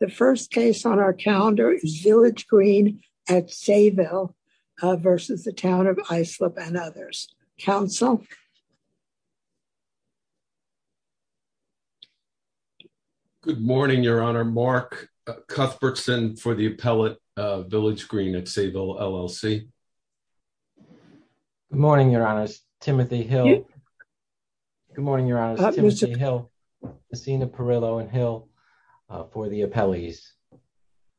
The first case on our calendar is Village Green at Sayville versus the Town of Islip and others. Council. Good morning, Your Honor. Mark Cuthbertson for the appellate Village Green at Sayville, LLC. Good morning, Your Honor. Timothy Hill. Good morning, Your Honor. Timothy Hill, Messina Perillo and Hill for the appellees.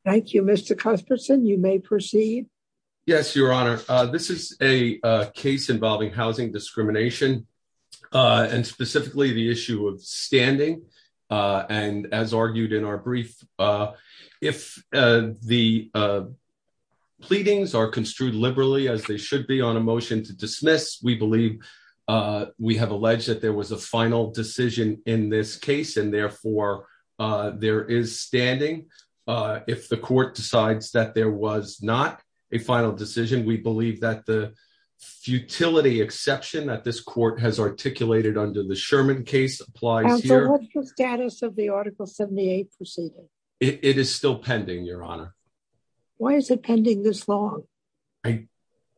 Thank you, Mr. Cuthbertson. You may proceed. Yes, Your Honor. This is a case involving housing discrimination. and specifically the issue of standing. And as argued in our brief. If the pleadings are construed liberally as they should be on a motion to dismiss we believe we have alleged that there was a final decision in this case and therefore there is standing. If the court decides that there was not a final decision, we believe that the futility exception that this court has articulated under the Sherman case applies here. What's the status of the Article 78 proceeding? It is still pending, Your Honor. Why is it pending this long? I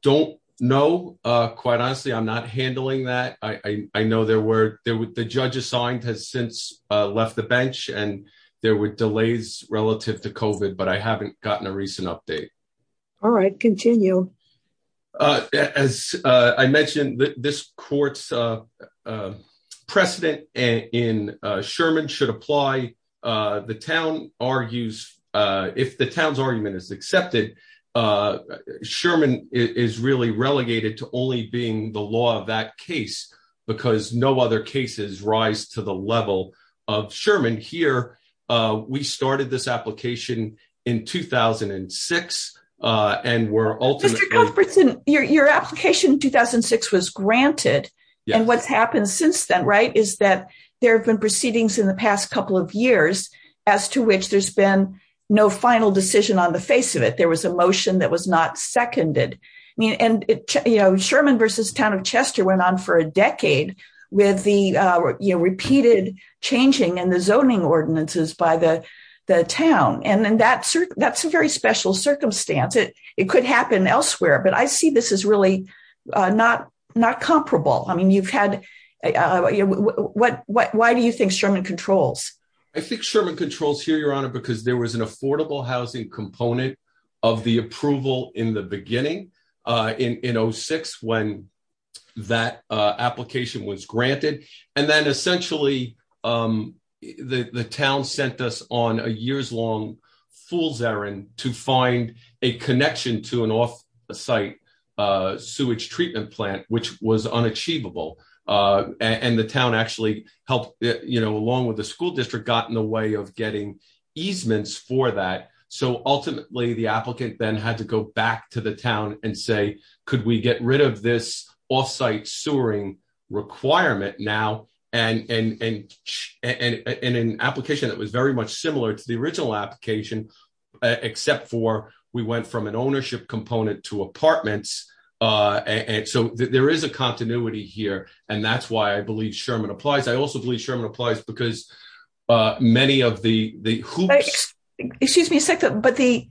don't know. Quite honestly, I'm not handling that. I know the judge assigned has since left the bench and there were delays relative to COVID, but I haven't gotten a recent update. All right, continue. As I mentioned, this court's precedent in Sherman should apply. The town argues, if the town's argument is accepted, Sherman is really relegated to only being the law of that case because no other cases rise to the level of Sherman. We started this application in 2006 and were ultimately... Mr. Cuthbertson, your application in 2006 was granted and what's happened since then, right, is that there have been proceedings in the past couple of years as to which there's been no final decision on the face of it. There was a motion that was not seconded. Sherman v. Town of Chester went on for a decade with the repeated changing in the zoning ordinances by the town. That's a very special circumstance. It could happen elsewhere, but I see this as really not comparable. Why do you think Sherman controls? I think Sherman controls here, Your Honor, because there was an affordable housing component of the approval in the beginning in 2006 when that application was granted. And then essentially the town sent us on a years-long fool's errand to find a connection to an off-site sewage treatment plant, which was unachievable. And the town actually helped, along with the school district, got in the way of getting easements for that. So ultimately the applicant then had to go back to the town and say, could we get rid of this off-site sewering requirement now? And in an application that was very much similar to the original application, except for we went from an ownership component to apartments. So there is a continuity here, and that's why I believe Sherman applies. I also believe Sherman applies because many of the hoops— Excuse me a second, but the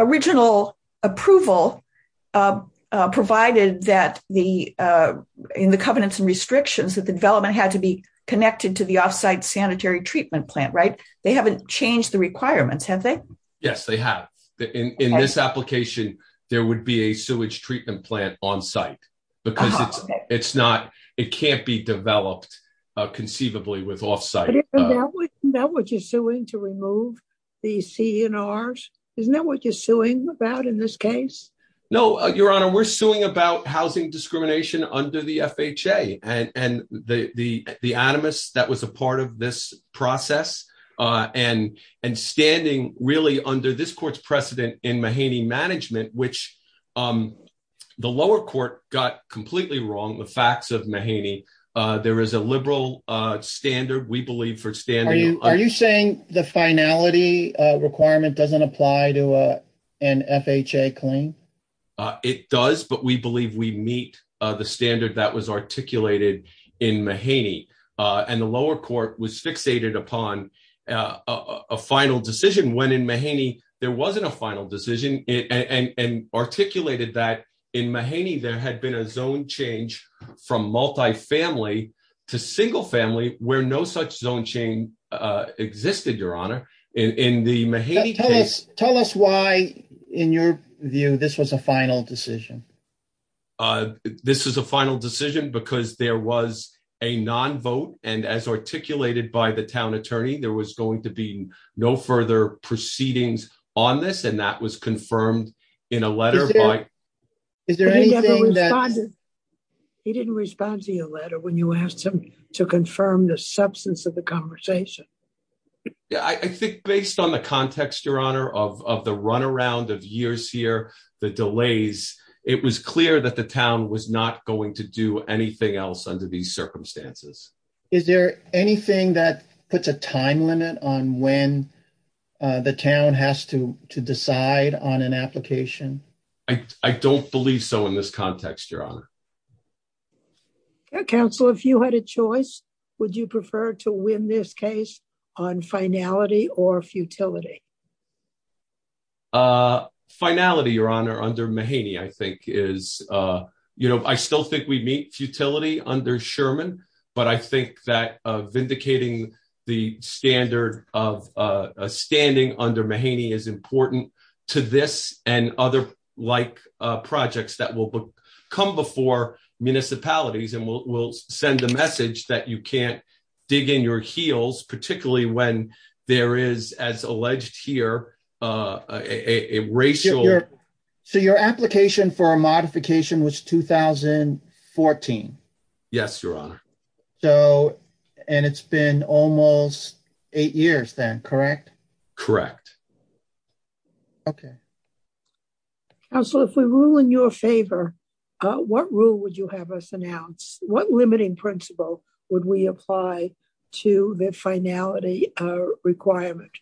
original approval provided that in the covenants and restrictions that the development had to be connected to the off-site sanitary treatment plant, right? They haven't changed the requirements, have they? Yes, they have. In this application, there would be a sewage treatment plant on-site because it can't be developed conceivably with off-site. Isn't that what you're suing to remove the C&Rs? Isn't that what you're suing about in this case? No, Your Honor, we're suing about housing discrimination under the FHA. And the animus that was a part of this process and standing really under this court's precedent in Mahaney management, which the lower court got completely wrong the facts of Mahaney. There is a liberal standard, we believe, for standing— Are you saying the finality requirement doesn't apply to an FHA claim? It does, but we believe we meet the standard that was articulated in Mahaney. And the lower court was fixated upon a final decision when in Mahaney there wasn't a final decision and articulated that in Mahaney there had been a zone change from multifamily to single family where no such zone change existed, Your Honor. Tell us why, in your view, this was a final decision. This is a final decision because there was a non-vote, and as articulated by the town attorney, there was going to be no further proceedings on this, and that was confirmed in a letter by— Is there anything that— He didn't respond to your letter when you asked him to confirm the substance of the conversation. I think based on the context, Your Honor, of the runaround of years here, the delays, it was clear that the town was not going to do anything else under these circumstances. Is there anything that puts a time limit on when the town has to decide on an application? I don't believe so in this context, Your Honor. Counsel, if you had a choice, would you prefer to win this case on finality or futility? Finality, Your Honor, under Mahaney, I think, is— and other like projects that will come before municipalities and will send the message that you can't dig in your heels, particularly when there is, as alleged here, a racial— So your application for a modification was 2014? Yes, Your Honor. And it's been almost eight years then, correct? Correct. Okay. Counsel, if we rule in your favor, what rule would you have us announce? What limiting principle would we apply to the finality requirement?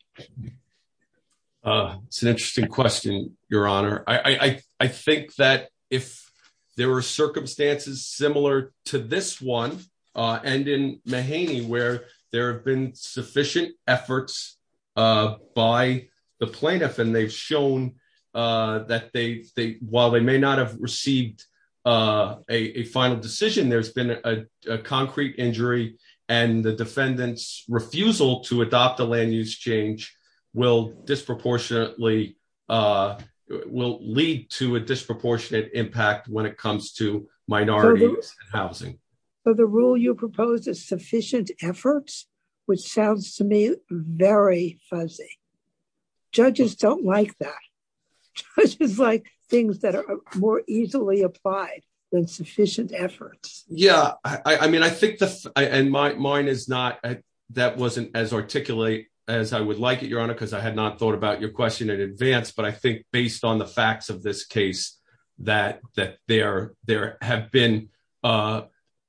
It's an interesting question, Your Honor. I think that if there were circumstances similar to this one, and in Mahaney, where there have been sufficient efforts by the plaintiff, and they've shown that while they may not have received a final decision, there's been a concrete injury, and the defendant's refusal to adopt a land-use change will lead to a disproportionate impact when it comes to minority housing. So the rule you proposed is sufficient efforts, which sounds to me very fuzzy. Judges don't like that. Judges like things that are more easily applied than sufficient efforts. Yeah, I mean, I think—and mine is not—that wasn't as articulate as I would like it, Your Honor, because I had not thought about your question in advance, but I think based on the facts of this case that there have been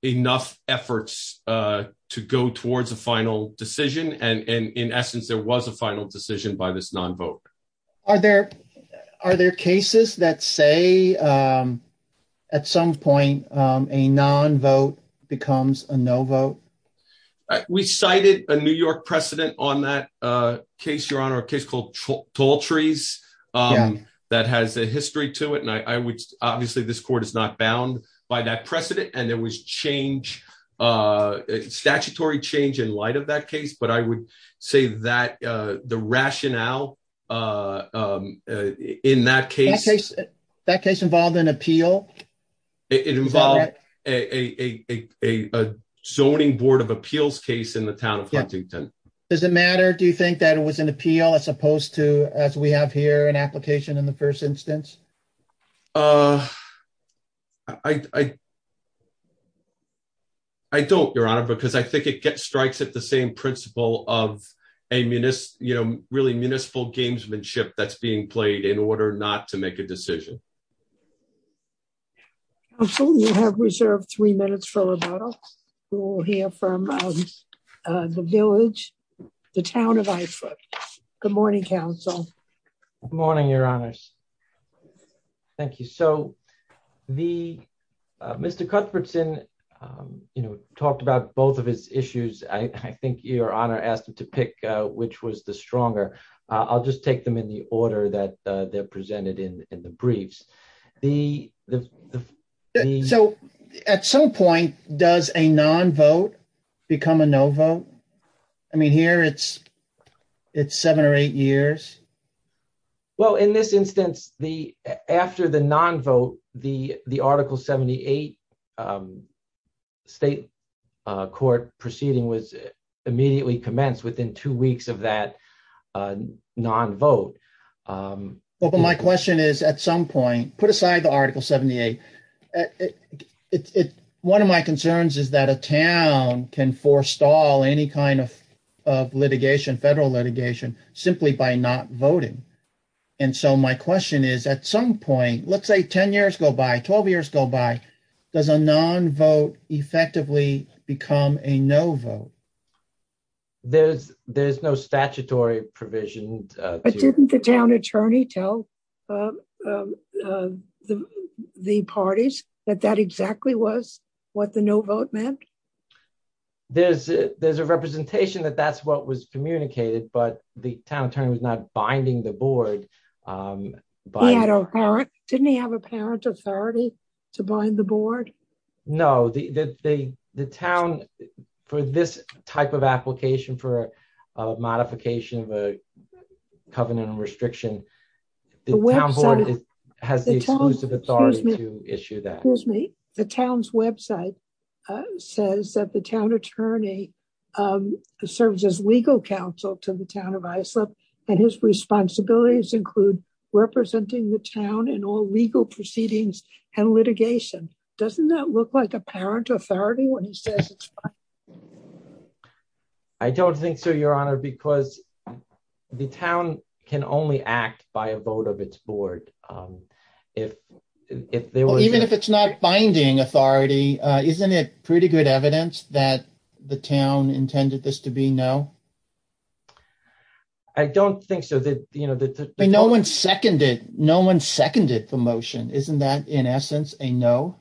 enough efforts to go towards a final decision, and in essence, there was a final decision by this non-vote. Are there cases that say at some point a non-vote becomes a no-vote? We cited a New York precedent on that case, Your Honor, a case called Tall Trees that has a history to it, and obviously this court is not bound by that precedent, and there was statutory change in light of that case, but I would say that the rationale in that case— That case involved an appeal? It involved a zoning board of appeals case in the town of Huntington. Does it matter? Do you think that it was an appeal as opposed to, as we have here, an application in the first instance? I don't, Your Honor, because I think it strikes at the same principle of a municipal gamesmanship that's being played in order not to make a decision. Counsel, you have reserved three minutes for rebuttal. We will hear from the village, the town of Ifrit. Good morning, Counsel. Good morning, Your Honors. Thank you. So, Mr. Cuthbertson talked about both of his issues. I think Your Honor asked him to pick which was the stronger. I'll just take them in the order that they're presented in the briefs. So, at some point, does a non-vote become a no-vote? I mean, here it's seven or eight years. Well, in this instance, after the non-vote, the Article 78 state court proceeding was immediately commenced within two weeks of that non-vote. But my question is, at some point, put aside the Article 78. One of my concerns is that a town can forestall any kind of litigation, federal litigation, simply by not voting. And so my question is, at some point, let's say 10 years go by, 12 years go by, does a non-vote effectively become a no-vote? There's no statutory provision. But didn't the town attorney tell the parties that that exactly was what the no-vote meant? There's a representation that that's what was communicated, but the town attorney was not binding the board. He had a parent. Didn't he have a parent authority to bind the board? No, the town, for this type of application, for a modification of a covenant restriction, the town board has the exclusive authority to issue that. Excuse me. The town's website says that the town attorney serves as legal counsel to the town of Islip, and his responsibilities include representing the town in all legal proceedings and litigation. Doesn't that look like a parent authority when he says it's fine? I don't think so, Your Honor, because the town can only act by a vote of its board. Even if it's not binding authority, isn't it pretty good evidence that the town intended this to be no? I don't think so. No one seconded the motion. Isn't that, in essence, a no?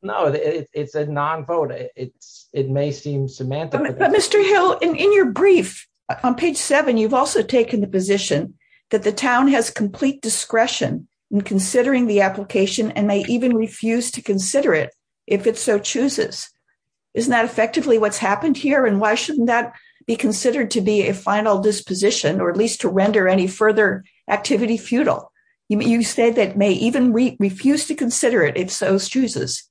No, it's a non-vote. It may seem semantic. Mr. Hill, in your brief on page seven, you've also taken the position that the town has complete discretion in considering the application and may even refuse to consider it if it so chooses. Isn't that effectively what's happened here, and why shouldn't that be considered to be a final disposition, or at least to render any further activity futile? You say that may even refuse to consider it if so chooses.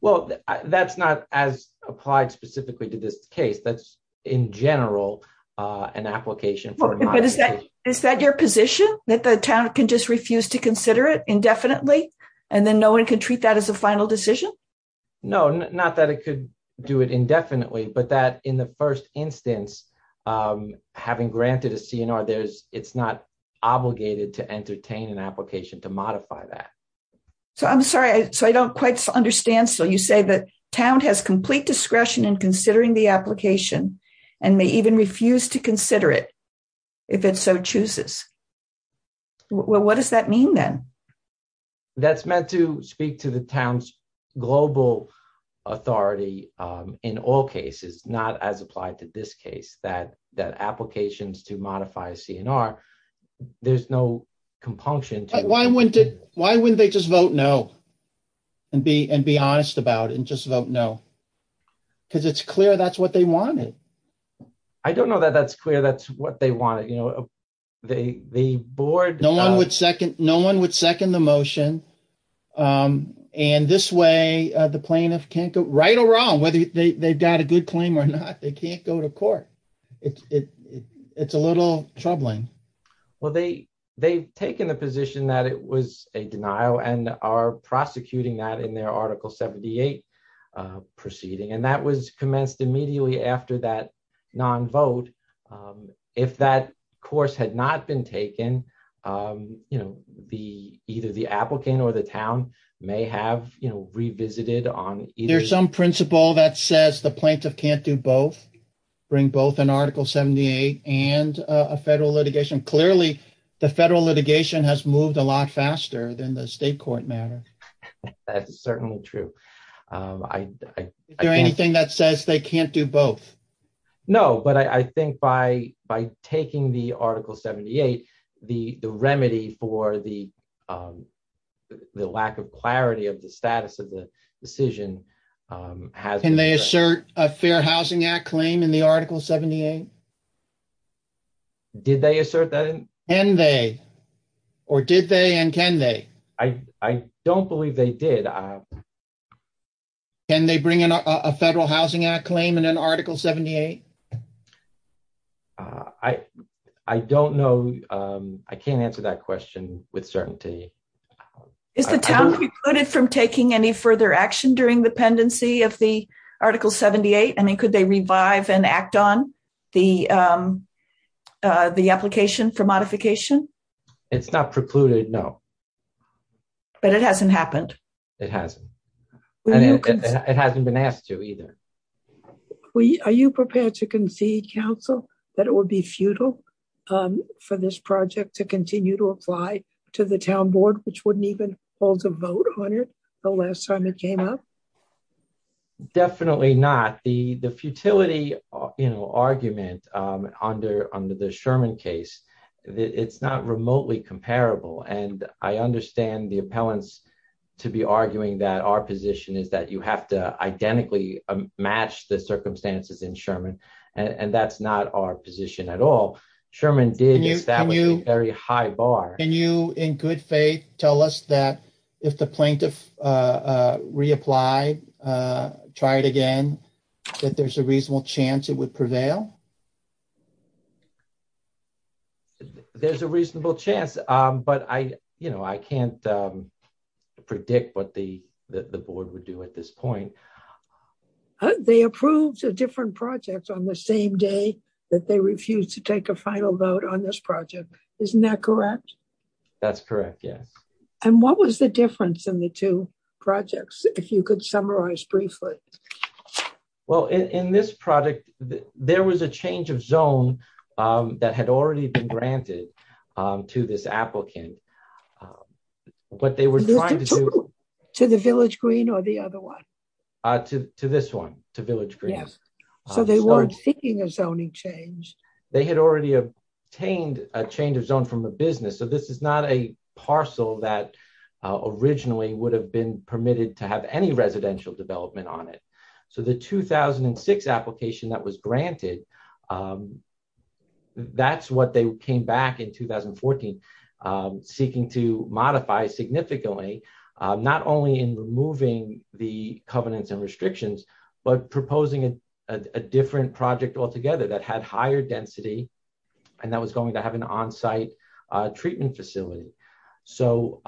Well, that's not as applied specifically to this case. That's, in general, an application for a modification. Is that your position, that the town can just refuse to consider it indefinitely, and then no one can treat that as a final decision? No, not that it could do it indefinitely, but that in the first instance, having granted a C&R, it's not obligated to entertain an application to modify that. I'm sorry, I don't quite understand. You say that town has complete discretion in considering the application and may even refuse to consider it if it so chooses. What does that mean, then? That's meant to speak to the town's global authority in all cases, not as applied to this case, that applications to modify a C&R, there's no compunction to it. Why wouldn't they just vote no, and be honest about it, and just vote no? Because it's clear that's what they wanted. I don't know that that's clear that's what they wanted. No one would second the motion, and this way, the plaintiff can't go right or wrong, whether they've got a good claim or not, they can't go to court. It's a little troubling. Well, they've taken the position that it was a denial and are prosecuting that in their Article 78 proceeding, and that was commenced immediately after that non-vote. If that course had not been taken, either the applicant or the town may have revisited on either. Is there some principle that says the plaintiff can't do both, bring both an Article 78 and a federal litigation? Clearly, the federal litigation has moved a lot faster than the state court matter. That's certainly true. Is there anything that says they can't do both? No, but I think by taking the Article 78, the remedy for the lack of clarity of the status of the decision... Can they assert a Fair Housing Act claim in the Article 78? Did they assert that? Can they, or did they and can they? I don't believe they did. Can they bring in a Federal Housing Act claim in an Article 78? I don't know. I can't answer that question with certainty. Is the town precluded from taking any further action during the pendency of the Article 78? I mean, could they revive and act on the application for modification? It's not precluded, no. But it hasn't happened? It hasn't. It hasn't been asked to either. Are you prepared to concede, counsel, that it would be futile for this project to continue to apply to the town board, which wouldn't even hold a vote on it the last time it came up? Definitely not. The futility argument under the Sherman case, it's not remotely comparable. And I understand the appellants to be arguing that our position is that you have to identically match the circumstances in Sherman. And that's not our position at all. Sherman did establish a very high bar. Can you, in good faith, tell us that if the plaintiff reapplied, tried again, that there's a reasonable chance it would prevail? There's a reasonable chance. But I can't predict what the board would do at this point. They approved a different project on the same day that they refused to take a final vote on this project. Isn't that correct? That's correct, yes. And what was the difference in the two projects, if you could summarize briefly? Well, in this project, there was a change of zone that had already been granted to this applicant. To the Village Green or the other one? To this one, to Village Green. So they weren't seeking a zoning change? They had already obtained a change of zone from a business. So this is not a parcel that originally would have been permitted to have any residential development on it. So the 2006 application that was granted, that's what they came back in 2014, seeking to modify significantly. Not only in removing the covenants and restrictions, but proposing a different project altogether that had higher density. And that was going to have an on-site treatment facility. So,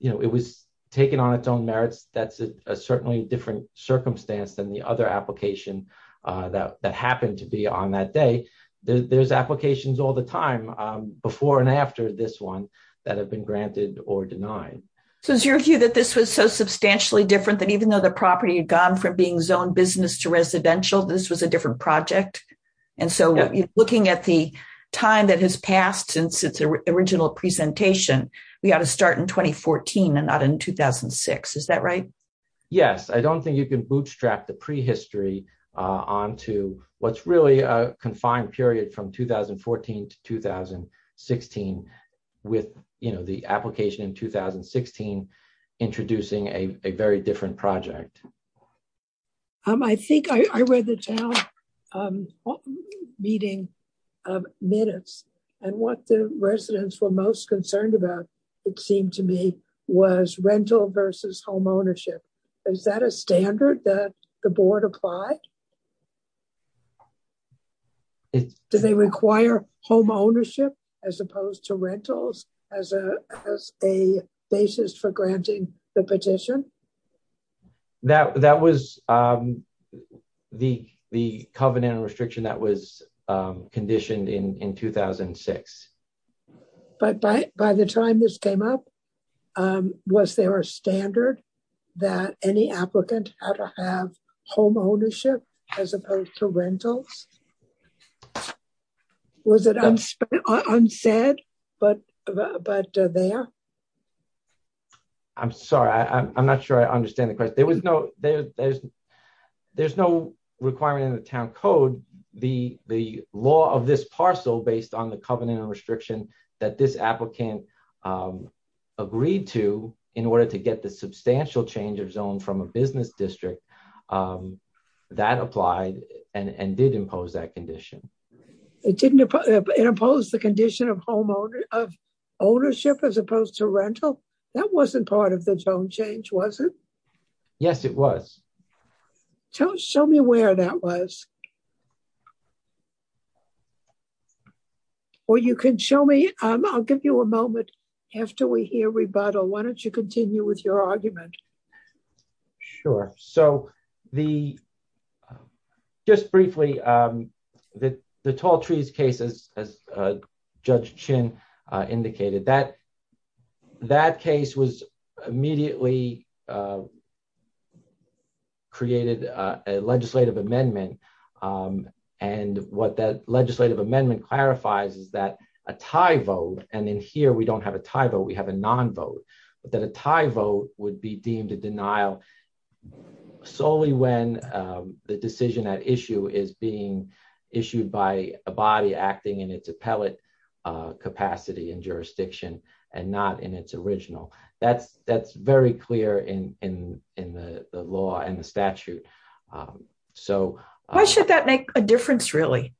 you know, it was taken on its own merits. That's certainly a different circumstance than the other application that happened to be on that day. There's applications all the time before and after this one that have been granted or denied. So is your view that this was so substantially different that even though the property had gone from being zoned business to residential, this was a different project? And so looking at the time that has passed since its original presentation, we ought to start in 2014 and not in 2006. Is that right? Yes, I don't think you can bootstrap the prehistory onto what's really a confined period from 2014 to 2016 with, you know, the application in 2016 introducing a very different project. I think I read the town meeting minutes and what the residents were most concerned about, it seemed to me, was rental versus home ownership. Is that a standard that the board applied? Do they require home ownership as opposed to rentals as a basis for granting the petition? That was the covenant restriction that was conditioned in 2006. But by the time this came up, was there a standard that any applicant had to have home ownership as opposed to rentals? Was it unsaid but there? I'm sorry, I'm not sure I understand the question. There's no requirement in the town code. The law of this parcel based on the covenant restriction that this applicant agreed to in order to get the substantial change of zone from a business district, that applied and did impose that condition. It didn't impose the condition of ownership as opposed to rental? That wasn't part of the zone change, was it? Yes, it was. Show me where that was. Or you can show me. I'll give you a moment after we hear rebuttal. Why don't you continue with your argument? Sure. So just briefly, the Tall Trees case, as Judge Chin indicated, that case was immediately created a legislative amendment. And what that legislative amendment clarifies is that a tie vote, and in here we don't have a tie vote, we have a non vote, that a tie vote would be deemed a denial. Solely when the decision at issue is being issued by a body acting in its appellate capacity and jurisdiction and not in its original. That's very clear in the law and the statute. Why should that make a difference, really?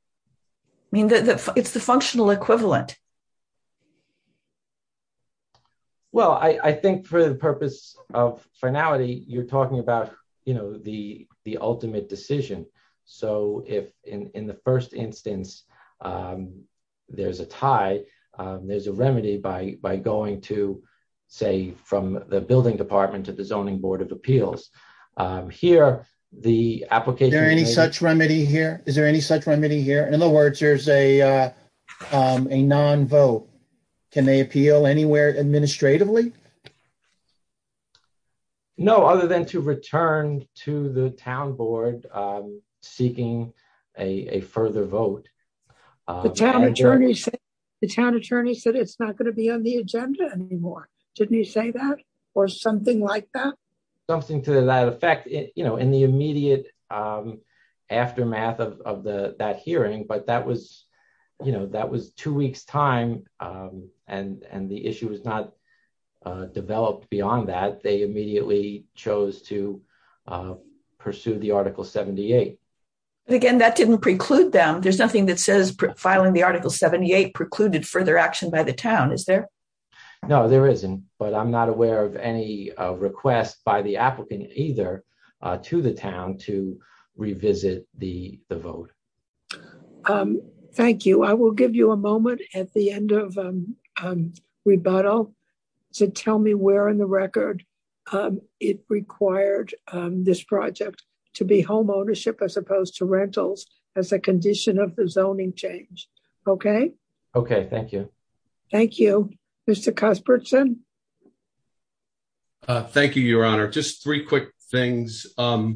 I mean, it's the functional equivalent. Well, I think for the purpose of finality, you're talking about, you know, the ultimate decision. So if in the first instance, there's a tie, there's a remedy by going to, say, from the building department to the zoning board of appeals. Is there any such remedy here? Is there any such remedy here? In other words, there's a non vote. Can they appeal anywhere administratively? No, other than to return to the town board, seeking a further vote. The town attorney said it's not going to be on the agenda anymore. Didn't he say that? Or something like that? Something to that effect, you know, in the immediate aftermath of that hearing. But that was, you know, that was two weeks time. And the issue was not developed beyond that. They immediately chose to pursue the Article 78. Again, that didn't preclude them. There's nothing that says filing the Article 78 precluded further action by the town, is there? No, there isn't. But I'm not aware of any request by the applicant either to the town to revisit the vote. Thank you. I will give you a moment at the end of rebuttal to tell me where in the record it required this project to be home ownership as opposed to rentals as a condition of the zoning change. Okay. Okay, thank you. Thank you, Mr. Casperson. Thank you, Your Honor. Just three quick things. Listen,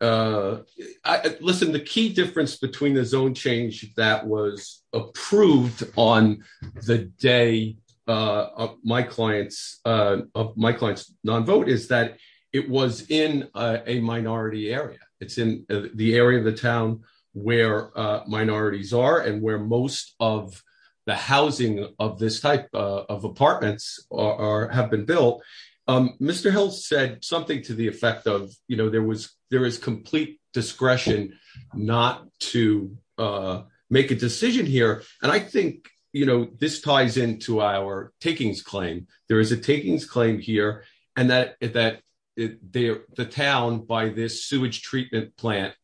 the key difference between the zone change that was approved on the day of my client's non-vote is that it was in a minority area. It's in the area of the town where minorities are and where most of the housing of this type of apartments have been built. Mr. Hill said something to the effect of there is complete discretion not to make a decision here. And I think this ties into our takings claim. There is a takings claim here and that the town by this sewage treatment plant,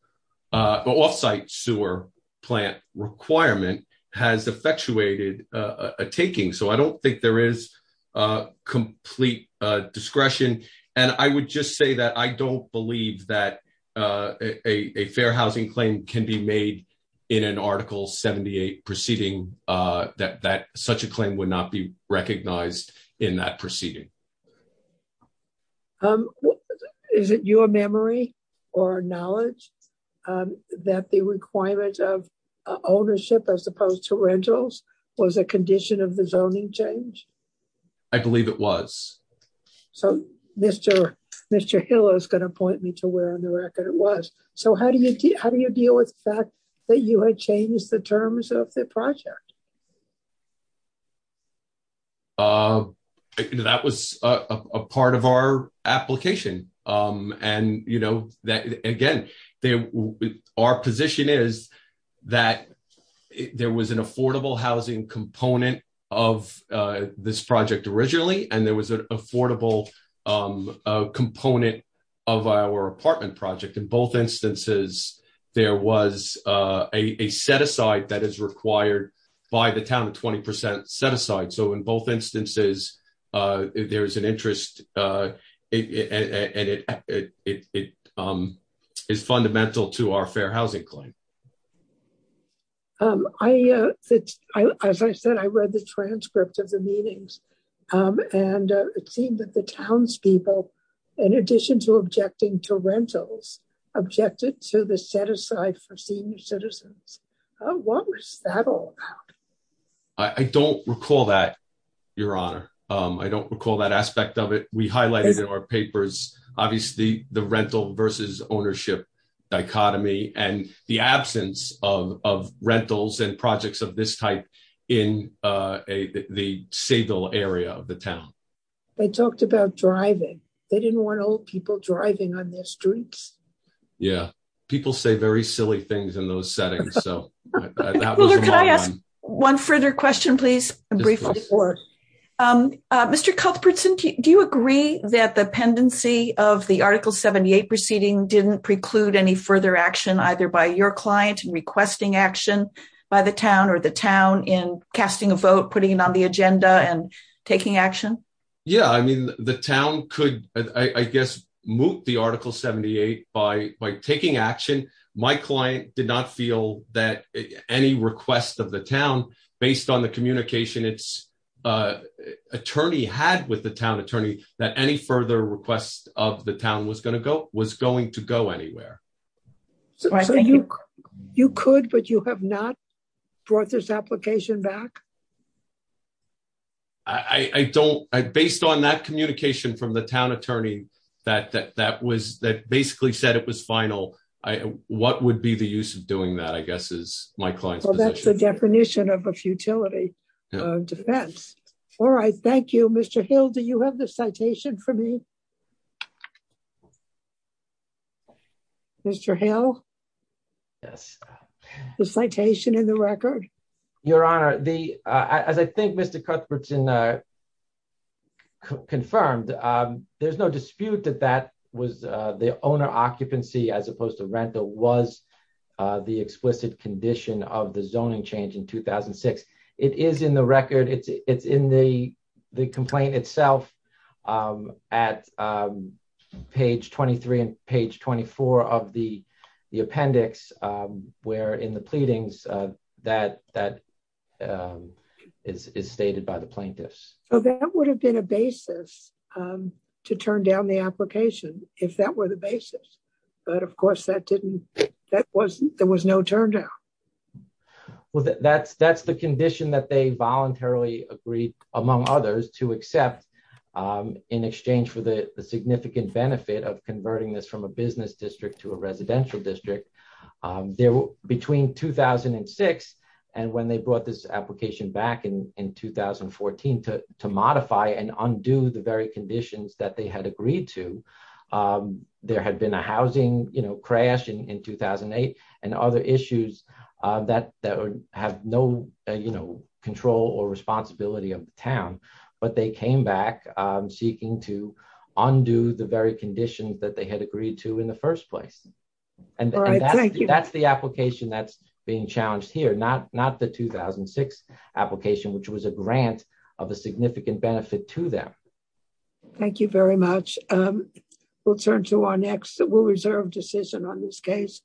off-site sewer plant requirement, has effectuated a taking. So I don't think there is complete discretion. And I would just say that I don't believe that a fair housing claim can be made in an Article 78 proceeding, that such a claim would not be recognized in that proceeding. Is it your memory or knowledge that the requirement of ownership as opposed to rentals was a condition of the zoning change? I believe it was. So Mr. Hill is going to point me to where on the record it was. So how do you deal with the fact that you had changed the terms of the project? That was a part of our application. And, you know, again, our position is that there was an affordable housing component of this project originally, and there was an affordable component of our apartment project. In both instances, there was a set-aside that is required by the town, a 20% set-aside. So in both instances, there is an interest and it is fundamental to our fair housing claim. As I said, I read the transcript of the meetings, and it seemed that the townspeople, in addition to objecting to rentals, objected to the set-aside for senior citizens. What was that all about? I don't recall that, Your Honor. I don't recall that aspect of it. We highlighted in our papers, obviously, the rental versus ownership dichotomy and the absence of rentals and projects of this type in the Segal area of the town. They talked about driving. They didn't want old people driving on their streets. Yeah, people say very silly things in those settings. Could I ask one further question, please? Mr. Cuthbertson, do you agree that the pendency of the Article 78 proceeding didn't preclude any further action either by your client requesting action by the town or the town in casting a vote, putting it on the agenda and taking action? Yeah, I mean, the town could, I guess, moot the Article 78 by taking action. My client did not feel that any request of the town, based on the communication its attorney had with the town attorney, that any further request of the town was going to go anywhere. So you could, but you have not brought this application back? I don't. Based on that communication from the town attorney that basically said it was final, what would be the use of doing that, I guess, is my client's position. Well, that's the definition of a futility defense. All right. Thank you. Mr. Hill, do you have the citation for me? Mr. Hill? Yes. The citation in the record? Your Honor, as I think Mr. Cuthbertson confirmed, there's no dispute that the owner occupancy, as opposed to rental, was the explicit condition of the zoning change in 2006. It is in the record. It's in the complaint itself, at page 23 and page 24 of the appendix, where in the pleadings, that is stated by the plaintiffs. So that would have been a basis to turn down the application, if that were the basis. But of course, there was no turn down. Well, that's the condition that they voluntarily agreed, among others, to accept in exchange for the significant benefit of converting this from a business district to a residential district. Between 2006 and when they brought this application back in 2014 to modify and undo the very conditions that they had agreed to, there had been a housing crash in 2008 and other issues that have no control or responsibility of the town. But they came back seeking to undo the very conditions that they had agreed to in the first place. All right. Thank you. And that's the application that's being challenged here, not the 2006 application, which was a grant of a significant benefit to them. Thank you very much. We'll turn to our next, we'll reserve decision on this case.